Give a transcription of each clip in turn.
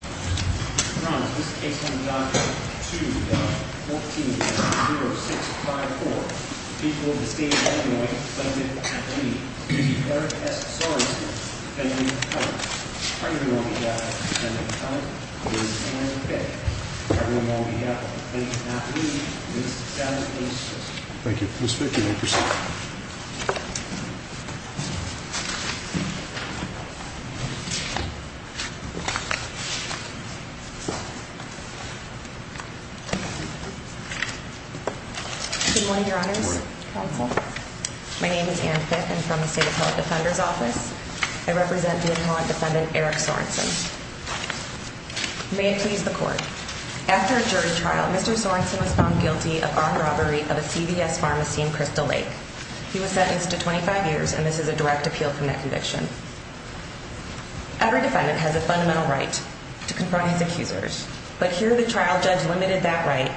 to double. Mhm mm. Thank you. Yeah. Good morning, Your honor. My name is Anne Fitz. I'm from the state of Hilleth Defender's Office. I thank you. May it please the court. After a jury trial, Mr Sorenson was found guilty of armed robbery of a CVS pharmacy in Crystal Lake. He was sentenced to 25 years, and this is a direct appeal from that conviction. Every defendant has a fundamental right to confront his accusers. But here the trial judge limited that right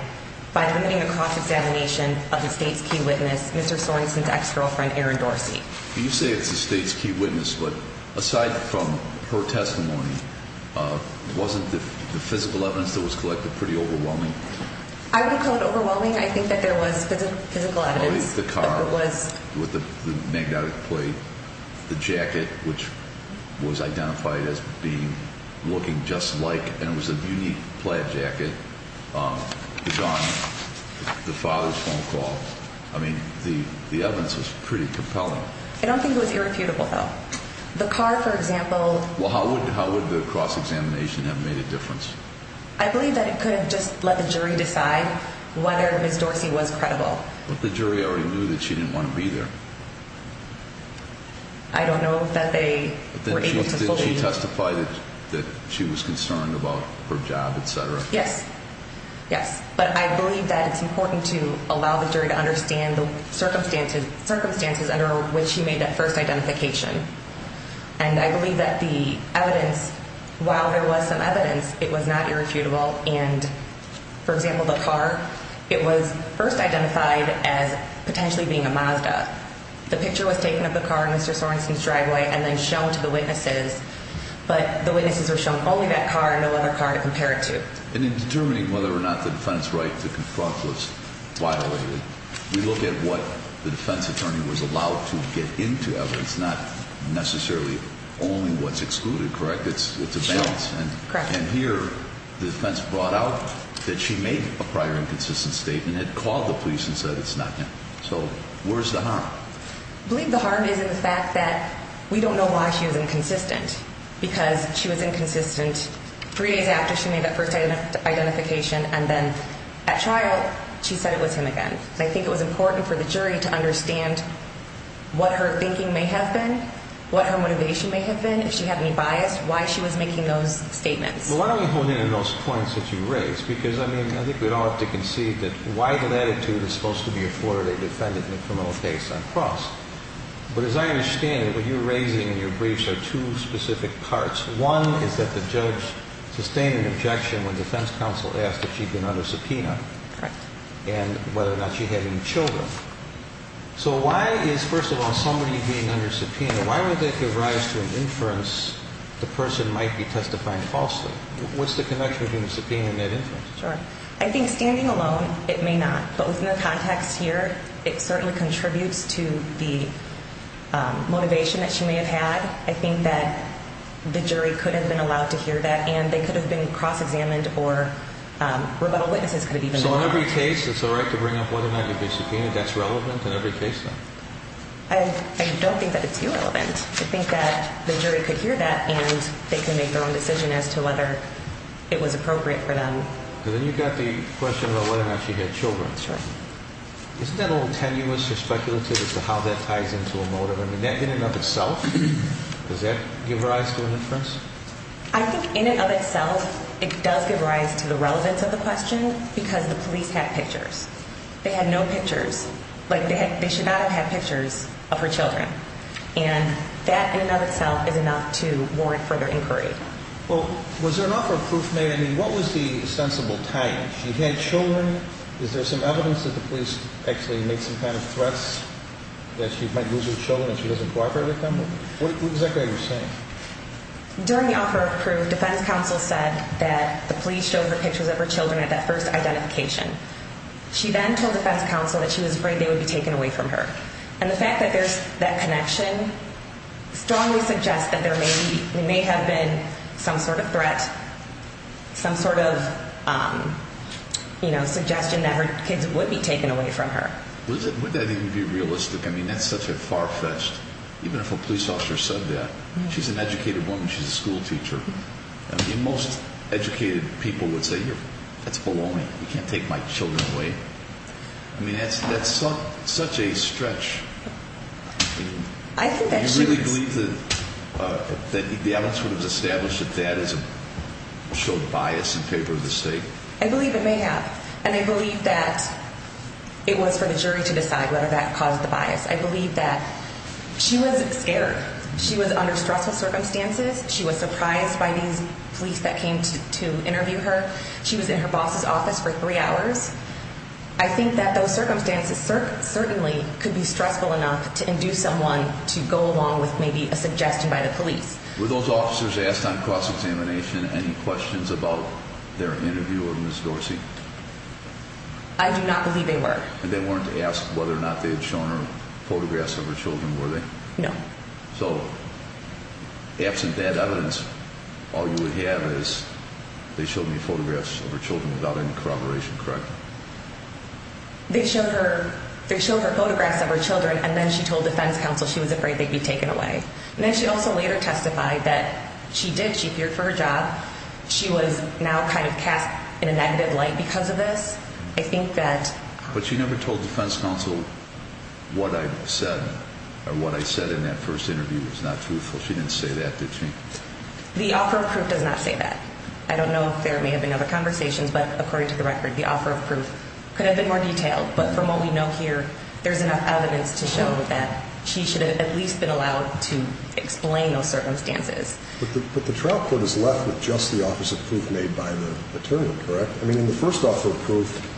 by limiting the cross examination of the state's key witness, Mr Sorenson's ex girlfriend, Aaron Dorsey. You say it's the state's key witness. But aside from her testimony, uh, wasn't the physical evidence that was collected pretty overwhelming? I would call it overwhelming. I think that there was physical evidence. The car was with the magnetic plate, the jacket, which was identified as being looking just like and it was a unique plaid jacket. Um, John, the father's phone call. I mean, the evidence is pretty compelling. I don't think it was irrefutable, though. The car, for example. Well, how would how would the cross examination have made a difference? I believe that it could just let the jury decide whether Miss Dorsey was credible. But the jury already knew that she didn't want to be there. I don't know that they were able to testify that she was concerned about her job, etcetera. Yes, yes. But I believe that it's important to allow the jury to understand the circumstances, circumstances under which he made that first identification. And I believe that the evidence, while there was some evidence, it was not irrefutable. And, for example, the car, it was first identified as potentially being a Mazda. The picture was taken of the car, Mr Sorenson's driveway and then shown to the witnesses. But the witnesses were shown only that car and no other car to compare it to. And in determining whether or not the defense right to confront was violated, we look at what the defense attorney was allowed to get into evidence, not necessarily only what's excluded, correct? It's it's a balance. And here the defense brought out that she made a prior inconsistent statement, had called the police and said it's not. So where's the harm? I believe the harm is in the fact that we don't know why she was inconsistent because she was inconsistent three days after she made that first identification. And then at trial, she said it was him again. I think it was important for the jury to understand what her thinking may have been, what her motivation may have been. If she had any bias, why she was making those statements. Why don't we hold in those points that you raised? Because I mean, I think we'd all have to concede that why that attitude is supposed to be a Florida defendant in the criminal case on cross. But as I understand it, what you're raising in your briefs are two specific parts. One is that the judge sustained an objection when defense counsel asked if she'd been under subpoena and whether or not she had any Children. So why is, first of all, somebody being under subpoena? Why would that give rise to an inference? The person might be testifying falsely. What's the connection between subpoena and that inference? I think standing alone, it may not. But within the context here, it certainly contributes to the motivation that she may have had. I think that the jury could have been allowed to hear that, and they could have been cross examined or, um, rebuttal witnesses could have even. So in every case, it's all right to bring up whether or not you've been subpoenaed. That's relevant in every case. I don't think that it's irrelevant. I think that the jury could hear that and they can make their own decision as to whether it was appropriate for them. Then you've got the question about whether or not she had Children. That's right. Isn't that a little tenuous or speculative as to how that ties into a motive? I mean, in and of itself, does that give rise to an inference? I think in and of itself, it does give rise to the relevance of the question because the police had pictures. They had no pictures like they had. They should not have had pictures of her Children, and that in and of itself is enough to warrant further inquiry. Well, was there an offer of proof made? I mean, what was the sensible time she had Children? Is there some evidence that the police actually make some kind of threats that she might lose her Children if she doesn't cooperate with them? What exactly are you saying? During the offer of proof, defense counsel said that the police showed her pictures of her Children at that first identification. She then told the best counsel that she was afraid they would be taken away from her. And the fact that there's that connection strongly suggests that there may be may have been some sort of threat, some sort of, um, you know, suggestion that her kids would be taken away from her. Would that even be realistic? I mean, that's such a far fetched. Even if a police officer said that she's an educated woman, she's a school teacher. The most educated people would say that's belonging. You can't take my Children away. I mean, that's that's such a stretch. I think that you really believe that the adults would have established that that is so bias and paper of the state. I believe it may have. And I believe that it was for the jury to decide whether that caused the bias. I believe that she was scared. She was under stressful circumstances. She was surprised by these police that came to interview her. She was in her boss's office for three hours. I think that those circumstances certainly could be stressful enough to induce someone to go along with maybe a suggestion by the Were those officers asked on cross examination any questions about their interview of Miss Dorsey? I do not believe they were. And they weren't asked whether or not they had shown her photographs of her Children. Were they? No. So absent that evidence, all you would have is they showed me photographs of her Children without any corroboration. Correct. They showed her. They showed her photographs of her Children. And then she told defense counsel she was afraid they'd be taken away. And then she also later testified that she did. She feared for her job. She was now kind of cast in a negative light because of this. I think that but she never told defense counsel what I said or what I said in that first interview was not truthful. She didn't say that. Did she? The offer of proof does not say that. I don't know if there may have been other conversations, but according to the record, the offer of proof could have been more detailed. But from what we know here, there's enough evidence to show that she should have at least been allowed to explain those circumstances. But the trial court is left with just the opposite proof made by the attorney. Correct. I mean, in the first offer of proof,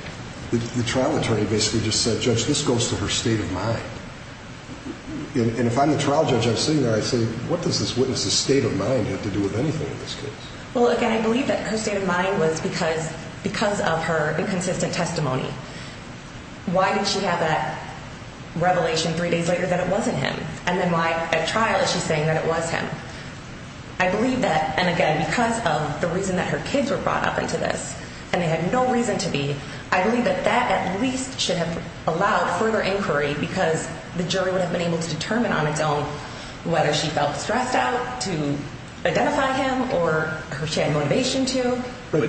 the trial attorney basically just said, Judge, this goes to her state of mind. And if I'm the trial judge, I'm sitting there. I say, What does this witness the state of mind have to do with anything in this case? Well, again, I believe that her state of mind was because because of her inconsistent testimony. Why did she have that revelation three days later that it wasn't him? And then at trial, she's saying that it was him. I believe that. And again, because of the reason that her kids were brought up into this, and they had no reason to be. I believe that that at least should have allowed further inquiry because the jury would have been able to determine on its own whether she felt stressed out to identify him or her motivation to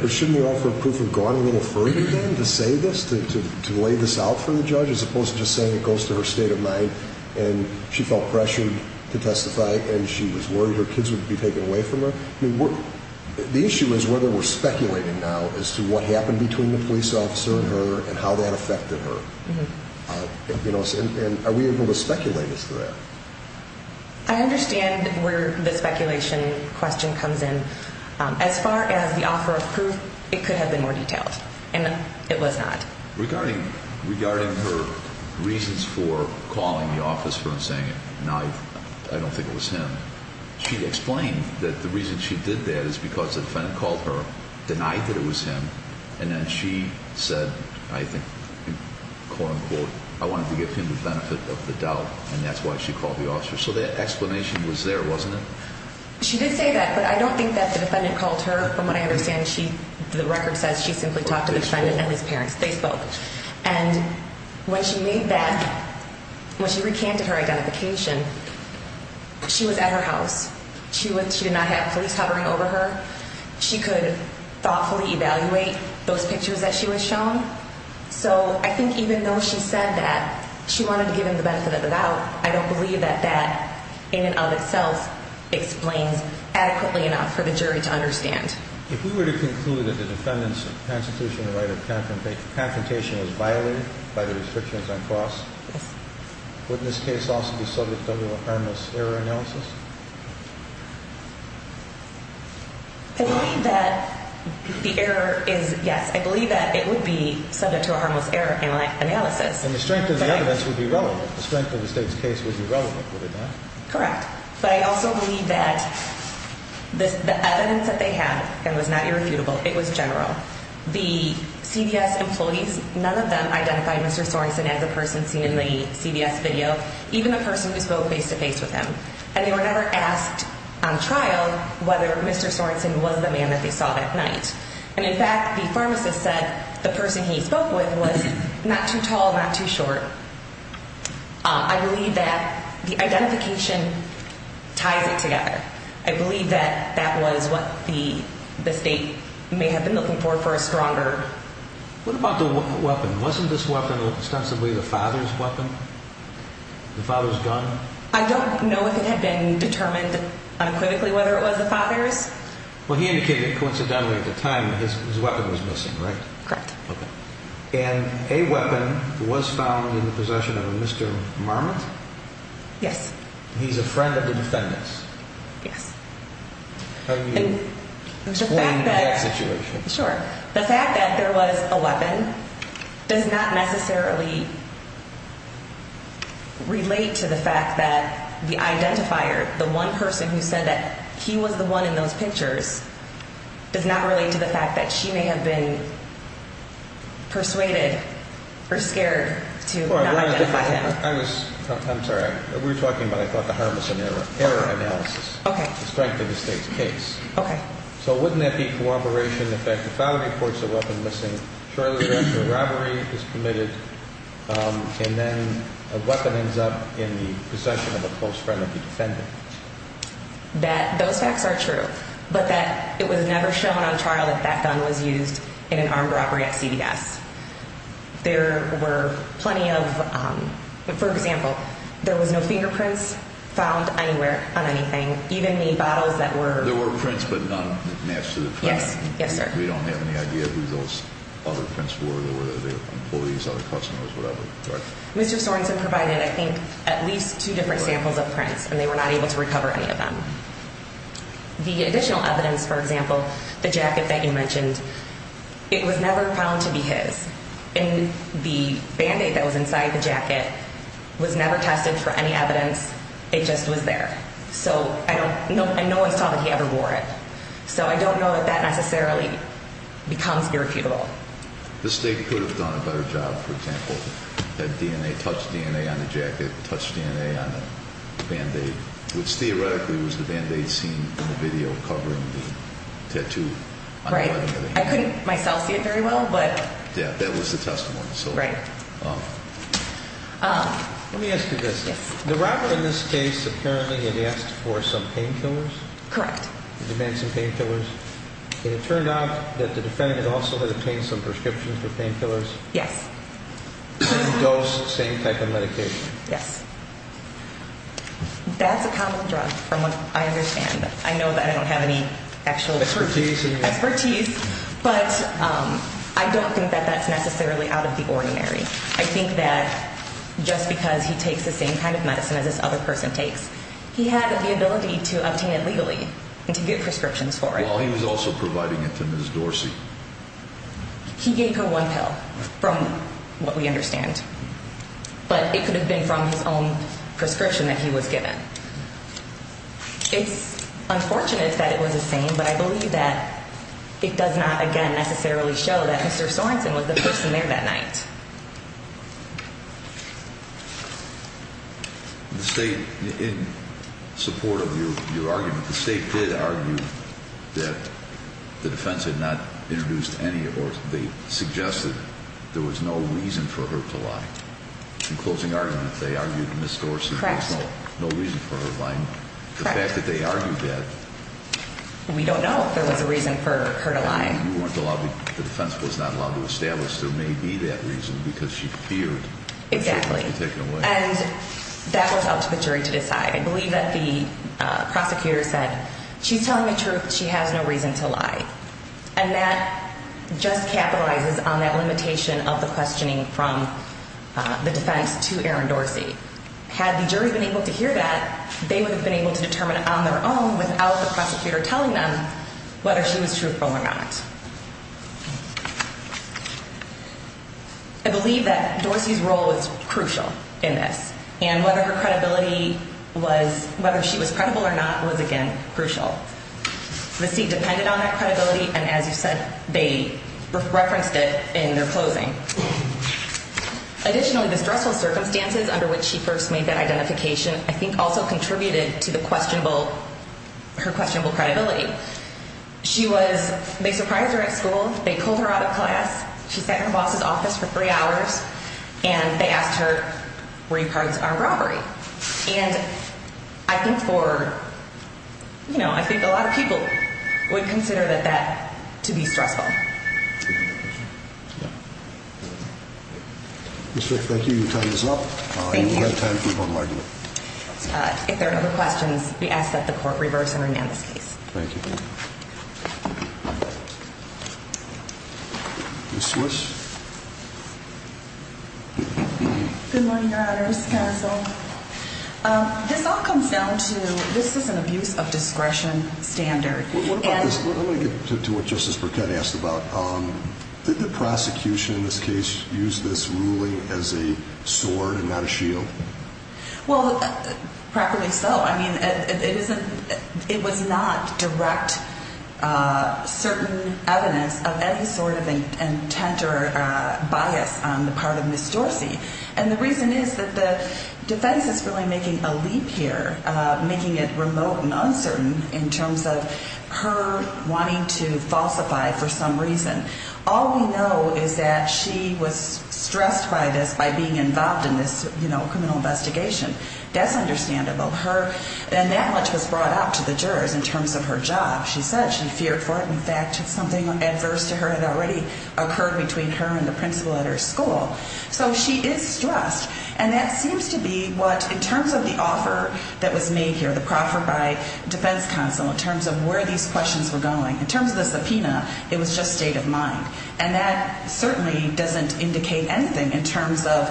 shouldn't offer proof of going a little further than to say this to delay this out for the judge, as opposed to saying it goes to her state and she felt pressured to testify and she was worried her kids would be taken away from her. The issue is whether we're speculating now as to what happened between the police officer and her and how that affected her. You know, are we able to speculate as to that? I understand where the speculation question comes in. As far as the offer of proof, it could have been more detailed, and it was not regarding regarding her reasons for calling the office for saying it. Now, I don't think it was him. She explained that the reason she did that is because the defendant called her, denied that it was him. And then she said, I think, quote unquote, I wanted to give him the benefit of the doubt, and that's why she called the officer. So that explanation was there, wasn't it? She did say that, but I don't think that the defendant called her. From what I understand, she the record says she simply talked to the defendant and his they spoke. And when she made that when she recanted her identification, she was at her house. She would. She did not have police hovering over her. She could thoughtfully evaluate those pictures that she was shown. So I think even though she said that she wanted to give him the benefit of the doubt, I don't believe that that in and of itself explains adequately enough for the jury to understand. If we were to conclude that the defendants of Constitutional right of confrontation was violated by the restrictions on cost, wouldn't this case also be subject of a harmless error analysis? I believe that the error is yes, I believe that it would be subject to a harmless error analysis. And the strength of the evidence would be relevant. The strength of the state's case would be relevant. Correct. But I also believe that this evidence that they had and was not irrefutable. It was general. The CBS employees, none of them identified Mr Sorenson as a person seen in the CBS video, even the person who spoke face to face with him. And they were never asked on trial whether Mr Sorenson was the man that they saw that night. And in fact, the pharmacist said the person he spoke with was not too tall, not too that that was what the state may have been looking for for a stronger. What about the weapon? Wasn't this weapon ostensibly the father's weapon? The father's gun. I don't know if it had been determined unequivocally whether it was the father's. Well, he indicated coincidentally at the time his weapon was missing, right? Correct. And a weapon was found in the possession of Mr Marmot. Yes, he's a friend of the defendants. Yes. How do you explain that situation? Sure. The fact that there was a weapon does not necessarily relate to the fact that the identifier, the one person who said that he was the one in those pictures, does not relate to the fact that she may have been persuaded or scared to identify him. I'm sorry we're talking about. I okay. So wouldn't that be corroboration? In fact, the father reports a weapon missing shortly after a robbery is committed. Um, and then a weapon ends up in the possession of a close friend of the defendant that those facts are true, but that it was never shown on trial that that gun was used in an armed robbery at CBS. There were plenty of, for example, there was no fingerprints found anywhere on anything. Even the bottles that were there were prints, but none. Yes. Yes, sir. We don't have any idea who those other prints were. There were other employees, other customers, whatever. Mr Sorenson provided, I think, at least two different samples of prints, and they were not able to recover any of them. The additional evidence, for example, the jacket that you mentioned, it was never tested for any evidence. It just was there. So I don't know. I know I saw that he ever wore it, so I don't know that that necessarily becomes irrefutable. The state could have done a better job, for example, that DNA touched DNA on the jacket, touched DNA on the band aid, which theoretically was the band aid seen in the video covering the tattoo. Right. I couldn't myself see it very well, but yeah, that was the testimony. So, right. Uh, let me ask you this. The robber in this case apparently had asked for some painkillers. Correct. Demand some painkillers. It turned out that the defendant also had obtained some prescriptions for painkillers. Yes. Those same type of medication. Yes. That's a common drug. From what I understand. I know that I don't have actual expertise, but I don't think that that's necessarily out of the ordinary. I think that just because he takes the same kind of medicine as this other person takes, he had the ability to obtain it legally and to get prescriptions for it while he was also providing it to Ms Dorsey. He gave her one pill from what we understand, but it could have been from his own prescription that he was given. Yeah. It's unfortunate that it was the same, but I believe that it does not again necessarily show that Mr Sorenson was the person there that night. The state in support of your argument, the state did argue that the defense had not introduced any or they suggested there was no reason for her in closing argument. They argued in the stores. No reason for her lying. The fact that they argued that we don't know if there was a reason for her to lie. You weren't allowed. The defense was not allowed to establish. There may be that reason because she feared exactly. And that was up to the jury to decide. I believe that the prosecutor said she's telling the truth. She has no reason to lie. And just capitalizes on that limitation of the questioning from the defense to Aaron Dorsey. Had the jury been able to hear that they would have been able to determine on their own without the prosecutor telling them whether she was truthful or not. I believe that Dorsey's role is crucial in this and whether her credibility was whether she was credible or not was again crucial. The seat depended on and as you said, they referenced it in their closing. Additionally, the stressful circumstances under which she first made that identification, I think also contributed to the questionable her questionable credibility. She was, they surprised her at school. They pulled her out of class. She sat in her boss's office for three hours and they asked her where you cards are robbery. And I think for, you know, I think a lot of would consider that that to be stressful. Mr. Thank you. Time is up. If there are other questions, we ask that the court reverse and remand this case. Thank you. Swiss. Good morning. Your honor's counsel. This all comes down to this is an abuse of discretion standard. Let me get to what Justice Burkett asked about. Um, did the prosecution in this case use this ruling as a sword and not a shield? Well, properly so. I mean, it isn't, it was not direct, uh, certain evidence of any sort of intent or bias on the part of Miss Dorsey. And the reason is that the defense is really making a leap here, making it remote and uncertain in terms of her wanting to falsify for some reason. All we know is that she was stressed by this by being involved in this, you know, criminal investigation. That's understandable. Her and that much was brought out to the jurors in terms of her job. She said she feared for it. In fact, something adverse to her had occurred between her and the principal at her school. So she is stressed. And that seems to be what in terms of the offer that was made here, the proffer by defense counsel in terms of where these questions were going in terms of the subpoena, it was just state of mind. And that certainly doesn't indicate anything in terms of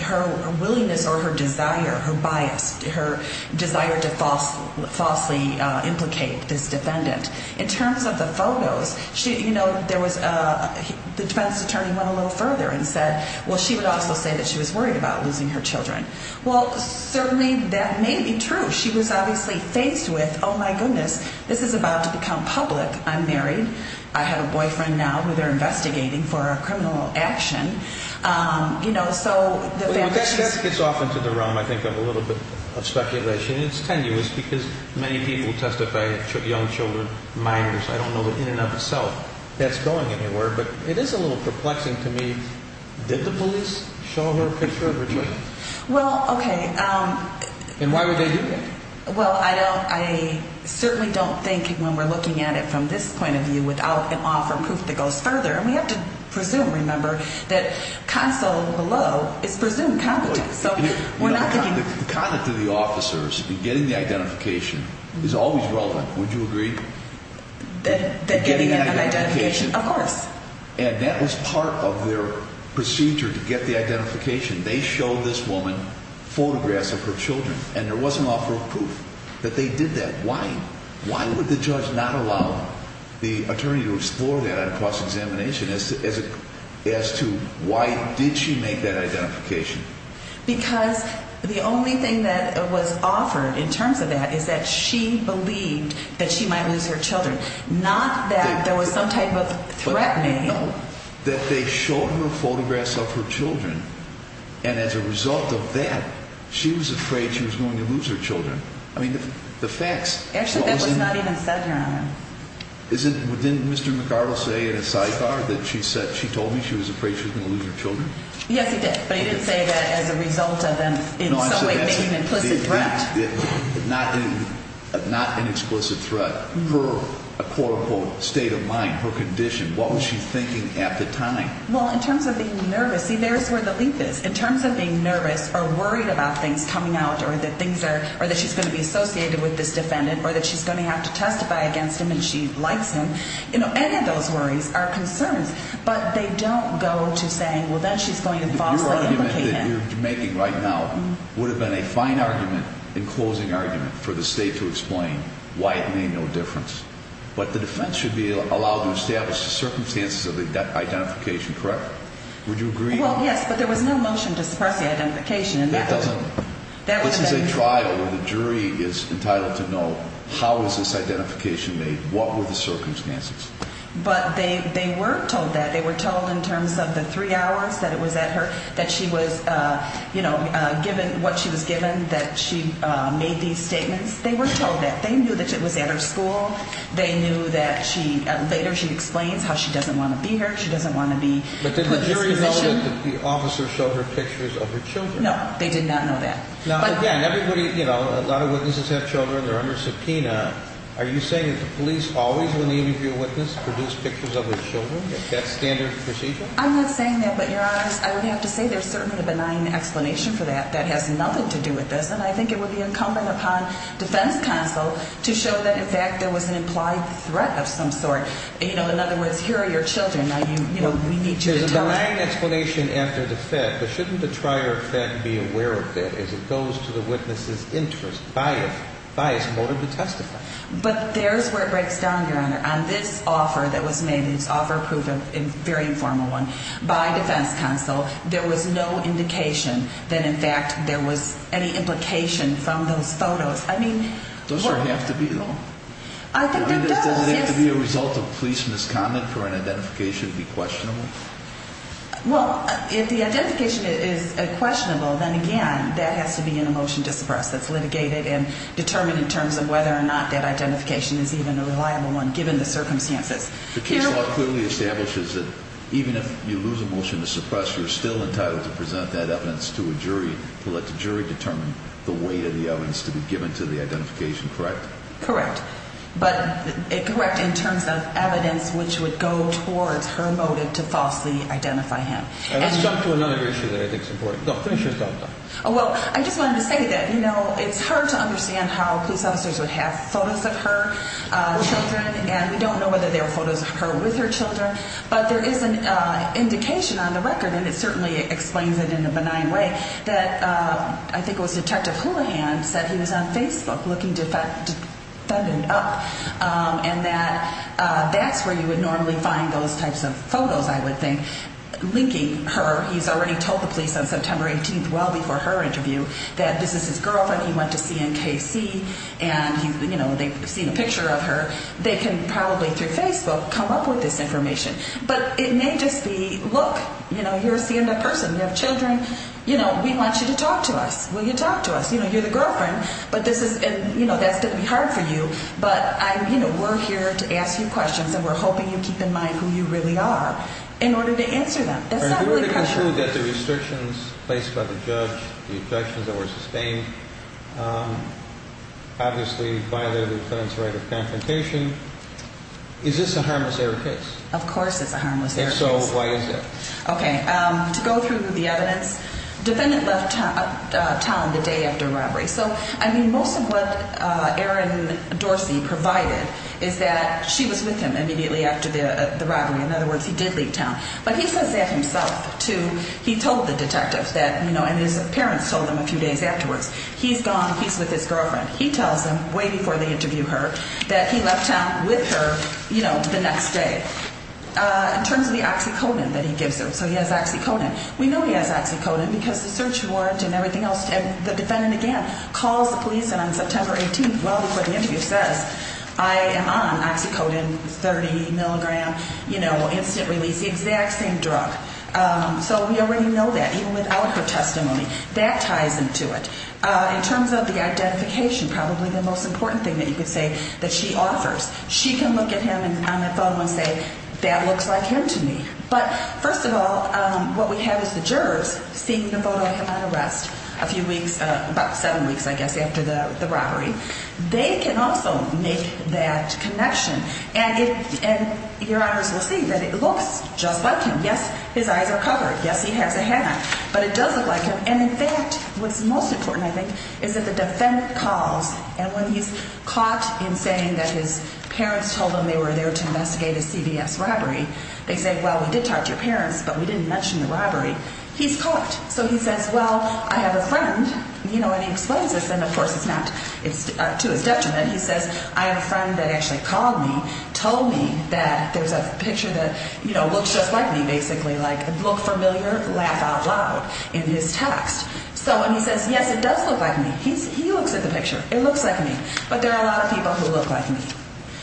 her willingness or her desire, her bias, her desire to false falsely implicate this defendant in terms of the photos. You know, there was the defense attorney went a little further and said, Well, she would also say that she was worried about losing her Children. Well, certainly that may be true. She was obviously faced with Oh, my goodness, this is about to become public. I'm married. I have a boyfriend now who they're investigating for a criminal action. Um, you know, so that gets off into the room. I think I'm a little bit of speculation. It's tenuous because many people testify young Children, minors. I don't know in and of itself that's going anywhere, but it is a little perplexing to me. Did the police show her picture? Well, okay. Um, and why would they do that? Well, I don't. I certainly don't think when we're looking at it from this point of view without an offer proof that goes further, we have to presume. Remember that console below is presumed competent. So we're not thinking the conduct of the officers getting the would you agree that getting an identification? Of course. And that was part of their procedure to get the identification. They showed this woman photographs of her Children, and there was an offer of proof that they did that. Why? Why would the judge not allow the attorney to explore that on cross examination as as as to why did she make that identification? Because the only thing that was offered in terms of that is that she believed that she might lose her Children. Not that there was some type of threatening that they showed her photographs of her Children. And as a result of that, she was afraid she was going to lose her Children. I mean, the facts actually not even said isn't within Mr. McArdle say in a sidebar that she said she told me she was afraid she was gonna lose her Children. Yes, but I didn't say that as a result of an implicit threat, not not an explicit threat for a quote unquote state of mind. Her condition. What was she thinking at the time? Well, in terms of being nervous, there's where the leap is in terms of being nervous or worried about things coming out or that things are or that she's gonna be associated with this defendant or that she's gonna have to testify against him and she likes him. You know, any of those worries are concerns, but they don't go to saying, well, that she's going to make it right now would have been a fine argument in closing argument for the state to explain why it made no difference. But the defense should be allowed to establish the circumstances of the identification. Correct. Would you agree? Yes, but there was no motion to suppress the identification and that doesn't. This is a trial where the jury is entitled to know how is this identification made? What were the circumstances? But they were told that they were told in terms of the three hours that it was at her, that she was, uh, you know, given what she was given that she made these statements. They were told that they knew that it was at her school. They knew that she later she explains how she doesn't want to be here. She doesn't want to be. But the jury officer showed her pictures of her Children. No, they did not know that. But again, everybody, you know, a lot of witnesses have Children. They're under subpoena. Are you saying that the police always when the interview witness produced pictures of his Children standard procedure? I'm not saying that. But you're honest. I would have to say there's certainly a benign explanation for that. That has nothing to do with this. And I think it would be incumbent upon defense counsel to show that, in fact, there was an implied threat of some sort. You know, in other words, here are your Children. You know, we need to explain after the fact, but shouldn't the trial effect be aware of it as it goes to the witnesses interest by bias motive to testify. But there's where it breaks down your honor on this offer that was made. It's offer proof of a very informal one by defense counsel. There was no indication that, in fact, there was any implication from those photos. I mean, those don't have to be long. I think it's gonna be a result of police misconduct for an identification. Be questionable. Well, if the identification is questionable, then again, that has to be in a motion to suppress that's litigated and determined in terms of whether or not that identification is even a reliable one. Given the circumstances, the case law clearly establishes that even if you lose a motion to suppress, you're still entitled to present that evidence to a jury to let the jury determine the weight of the evidence to be given to the identification. Correct? Correct. But correct in terms of evidence which would go towards her motive to falsely identify him. Let's talk to another issue that I think support. Oh, well, I just wanted to say that, you know, it's hard to understand how police officers would have photos of her Children, and we don't know whether they were photos of her with her Children. But there is an indication on the record, and it certainly explains it in a benign way that I think it was. Detective Houlihan said he was on Facebook looking defendant up on that. That's where you would normally find those types of photos. I would think linking her. He's already told the police on September 18th, well before her interview that this is his girlfriend. He went to see in KC and, you know, they've seen a picture of her. They can probably through Facebook come up with this information. But it may just be look, you know, you're seeing that person. You have Children. You know, we want you to talk to us. Will you talk to us? You know, you're the girlfriend. But this is, you know, that's gonna be hard for you. But, you know, we're here to ask you questions, and we're hoping you keep in mind who you really are in order to answer them. That's not really true that the restrictions placed by the judge, the objections that were sustained obviously violated the defendant's right of confrontation. Is this a harmless error case? Of course, it's a harmless. And so why is it okay to go through the evidence? Defendant left town the day after robbery. So I mean, most of what Aaron Dorsey provided is that she was with him immediately after the robbery. In other words, he did leave town, but he says that himself, too. He told the detectives that, you know, and his parents told him a few days afterwards he's gone. He's with his girlfriend. He tells them way before they interview her that he left town with her, you know, the next day in terms of the oxyconin that he gives them. So he has oxyconin. We know he has oxyconin because the search warrant and everything else and the police on September 18th. Well, before the interview says I am on oxycodone 30 milligram, you know, instant release the exact same drug. So we already know that even without her testimony that ties into it in terms of the identification, probably the most important thing that you could say that she offers. She can look at him on the phone and say that looks like him to me. But first of all, what we have is the jurors seem to vote on him on the robbery. They can also make that connection. And your honors will see that it looks just like him. Yes, his eyes are covered. Yes, he has a hat, but it doesn't like him. And in fact, what's most important, I think, is that the defendant calls and when he's caught in saying that his parents told them they were there to investigate a CBS robbery, they say, Well, we did talk to your parents, but we didn't mention the robbery. He's caught. So he it's to his detriment. He says, I have a friend that actually called me, told me that there's a picture that, you know, looks just like me, basically, like look familiar, laugh out loud in his text. So when he says, Yes, it does look like me, he looks at the picture. It looks like me. But there are a lot of people who look like me.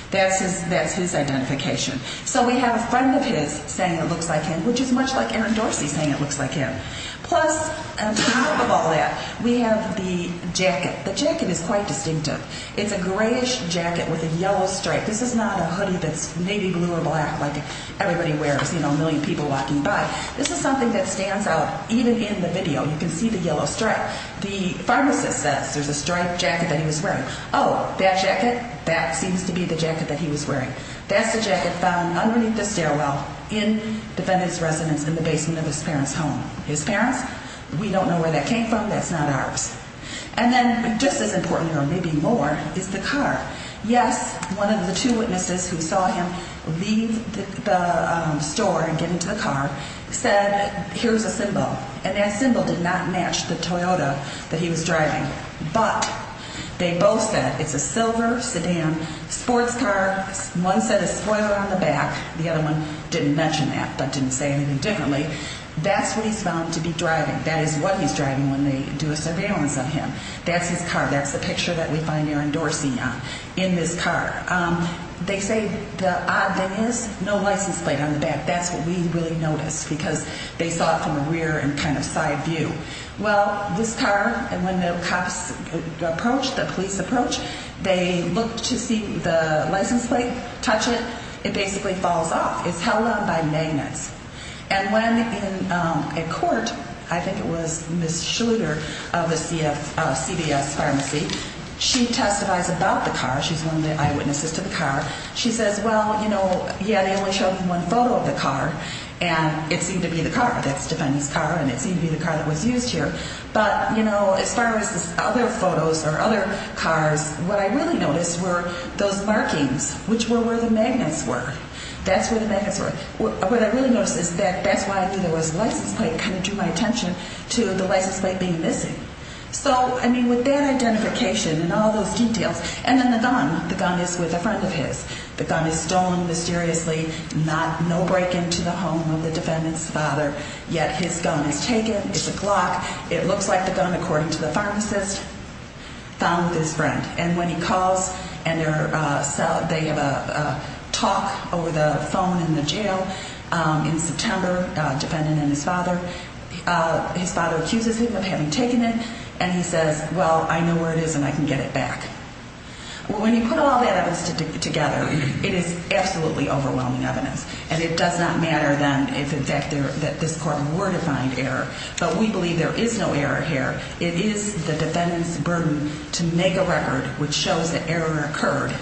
That's his. That's his identification. So we have a friend of his saying it looks like him, which is much like Aaron Dorsey saying it looks like him. Plus, on top of all that, we have the jacket is quite distinctive. It's a grayish jacket with a yellow stripe. This is not a hoodie that's maybe blue or black, like everybody wears. You know, a million people walking by. This is something that stands out. Even in the video, you can see the yellow stripe. The pharmacist says there's a striped jacket that he was wearing. Oh, that jacket that seems to be the jacket that he was wearing. That's the jacket found underneath the stairwell in defendant's residence in the basement of his parents home. His is important or maybe more is the car. Yes, one of the two witnesses who saw him leave the store and get into the car said, Here's a symbol. And that symbol did not match the Toyota that he was driving. But they both said it's a silver sedan sports car. One said it's spoiled on the back. The other one didn't mention that, but didn't say anything differently. That's what he's found to be driving. That is what he's driving when they do a surveillance of that's his car. That's the picture that we find you're endorsing on in this car. Um, they say the odd thing is no license plate on the back. That's what we really noticed because they saw from the rear and kind of side view. Well, this car and when the cops approach the police approach, they look to see the license plate, touch it. It basically falls off. It's held on by magnets. And in a court, I think it was Miss Schluter of the C. F. C. V. S. Pharmacy. She testifies about the car. She's one of the eyewitnesses to the car. She says, Well, you know, yeah, they only showed one photo of the car, and it seemed to be the car that Stephanie's car, and it seemed to be the car that was used here. But, you know, as far as other photos or other cars, what I really noticed were those markings, which were where the magnets were. That's where what I really noticed is that that's why I knew there was license plate kind of drew my attention to the license plate being missing. So I mean, with that identification and all those details and then the gun, the gun is with a friend of his. The gun is stolen mysteriously, not no break into the home of the defendant's father. Yet his gun is taken. It's a clock. It looks like the gun, according to the pharmacist, found his friend. And when he calls and they have a talk over the phone in the jail in September, defendant and his father, his father accuses him of having taken it. And he says, Well, I know where it is, and I can get it back. When you put all that evidence together, it is absolutely overwhelming evidence, and it does not matter than if, in fact, that this court were to find error. But we believe there is no error here. It is the defendant's burden to make a record which shows that error occurred.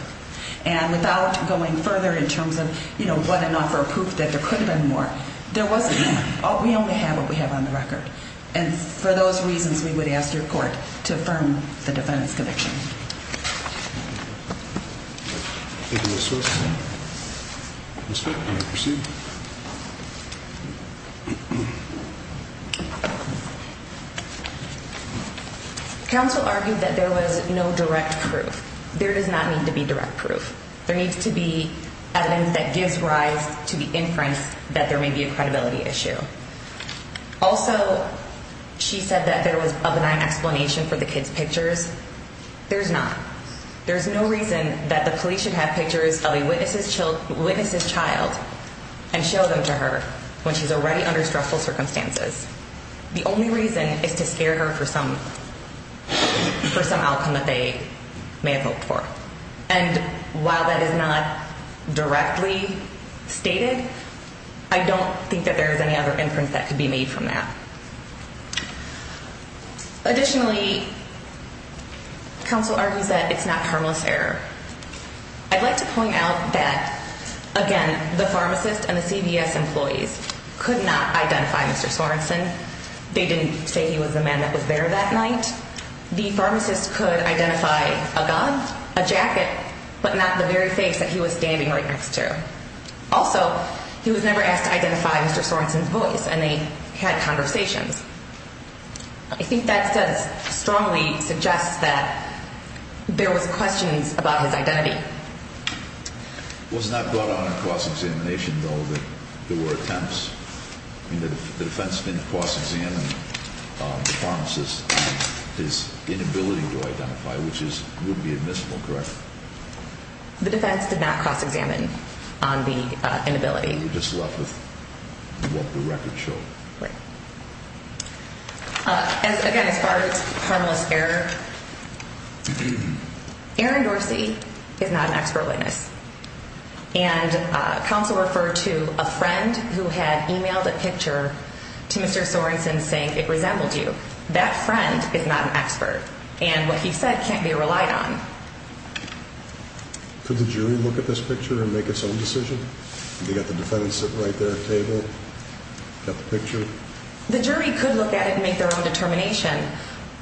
And without going further in terms of, you know what, enough for proof that there could have been more. There wasn't. We only have what we have on the record. And for those reasons, we would ask your court to affirm the defendant's conviction. Thank you. That's right. Yeah. Counsel argued that there was no direct proof. There does not need to be direct proof. There needs to be evidence that gives rise to the inference that there may be a credibility issue. Also, she said that there was of an explanation for the kids pictures. There's not. There's no reason that the police should have pictures of a witness's child witness's child and show them to her when she's already under stressful circumstances. The only reason is to scare her for some for some outcome that they may have hoped for. And while that is not directly stated, I don't think that there is any other inference that could be made from that. Additionally, counsel argues that it's not harmless error. I'd like to point out that again, the pharmacist and the CBS employees could not identify Mr Sorenson. They didn't say he was the man that was there that night. The pharmacist could identify a god, a jacket, but not the very face that he was standing right next to. Also, he was never asked to identify Mr Sorenson's voice, and they had conversations. I think that says strongly suggests that there was questions about his identity was not brought on a cross examination, though, that there were attempts. The defense didn't cross examine pharmacist his inability to identify, which is would be admissible. Correct. The defense did not cross examine on the inability. Just left with what the record show. Again, as far as harmless error, Aaron Dorsey is not an expert witness, and council referred to a friend who had emailed a picture to Mr Sorenson, saying it resembled you. That friend is not an expert, and what he said can't be relied on. Could the jury look at this picture and make its own decision? You got the defendant sit right there at table picture. The jury could look at it and make their own determination,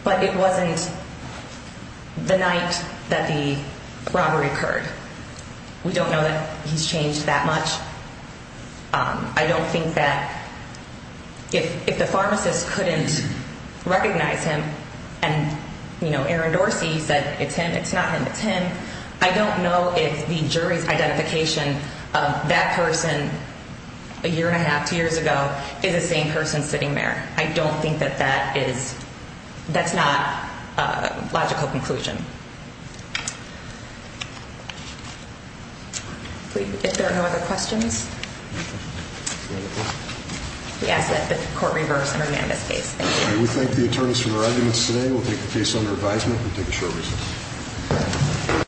but it wasn't the night that the robbery occurred. We don't know that he's changed that much. I don't think that if the pharmacist couldn't recognize him and, you know, Aaron Dorsey said it's him. It's not him. It's him. I don't know if the jury's identification of that person a year and a half, two years ago is the same person sitting there. I don't think that that is. That's not a logical conclusion. Please, if there are no other questions, yes, that the court reversed in this case. Thank you. We thank the attorneys for their arguments today. We'll take the case under advisement.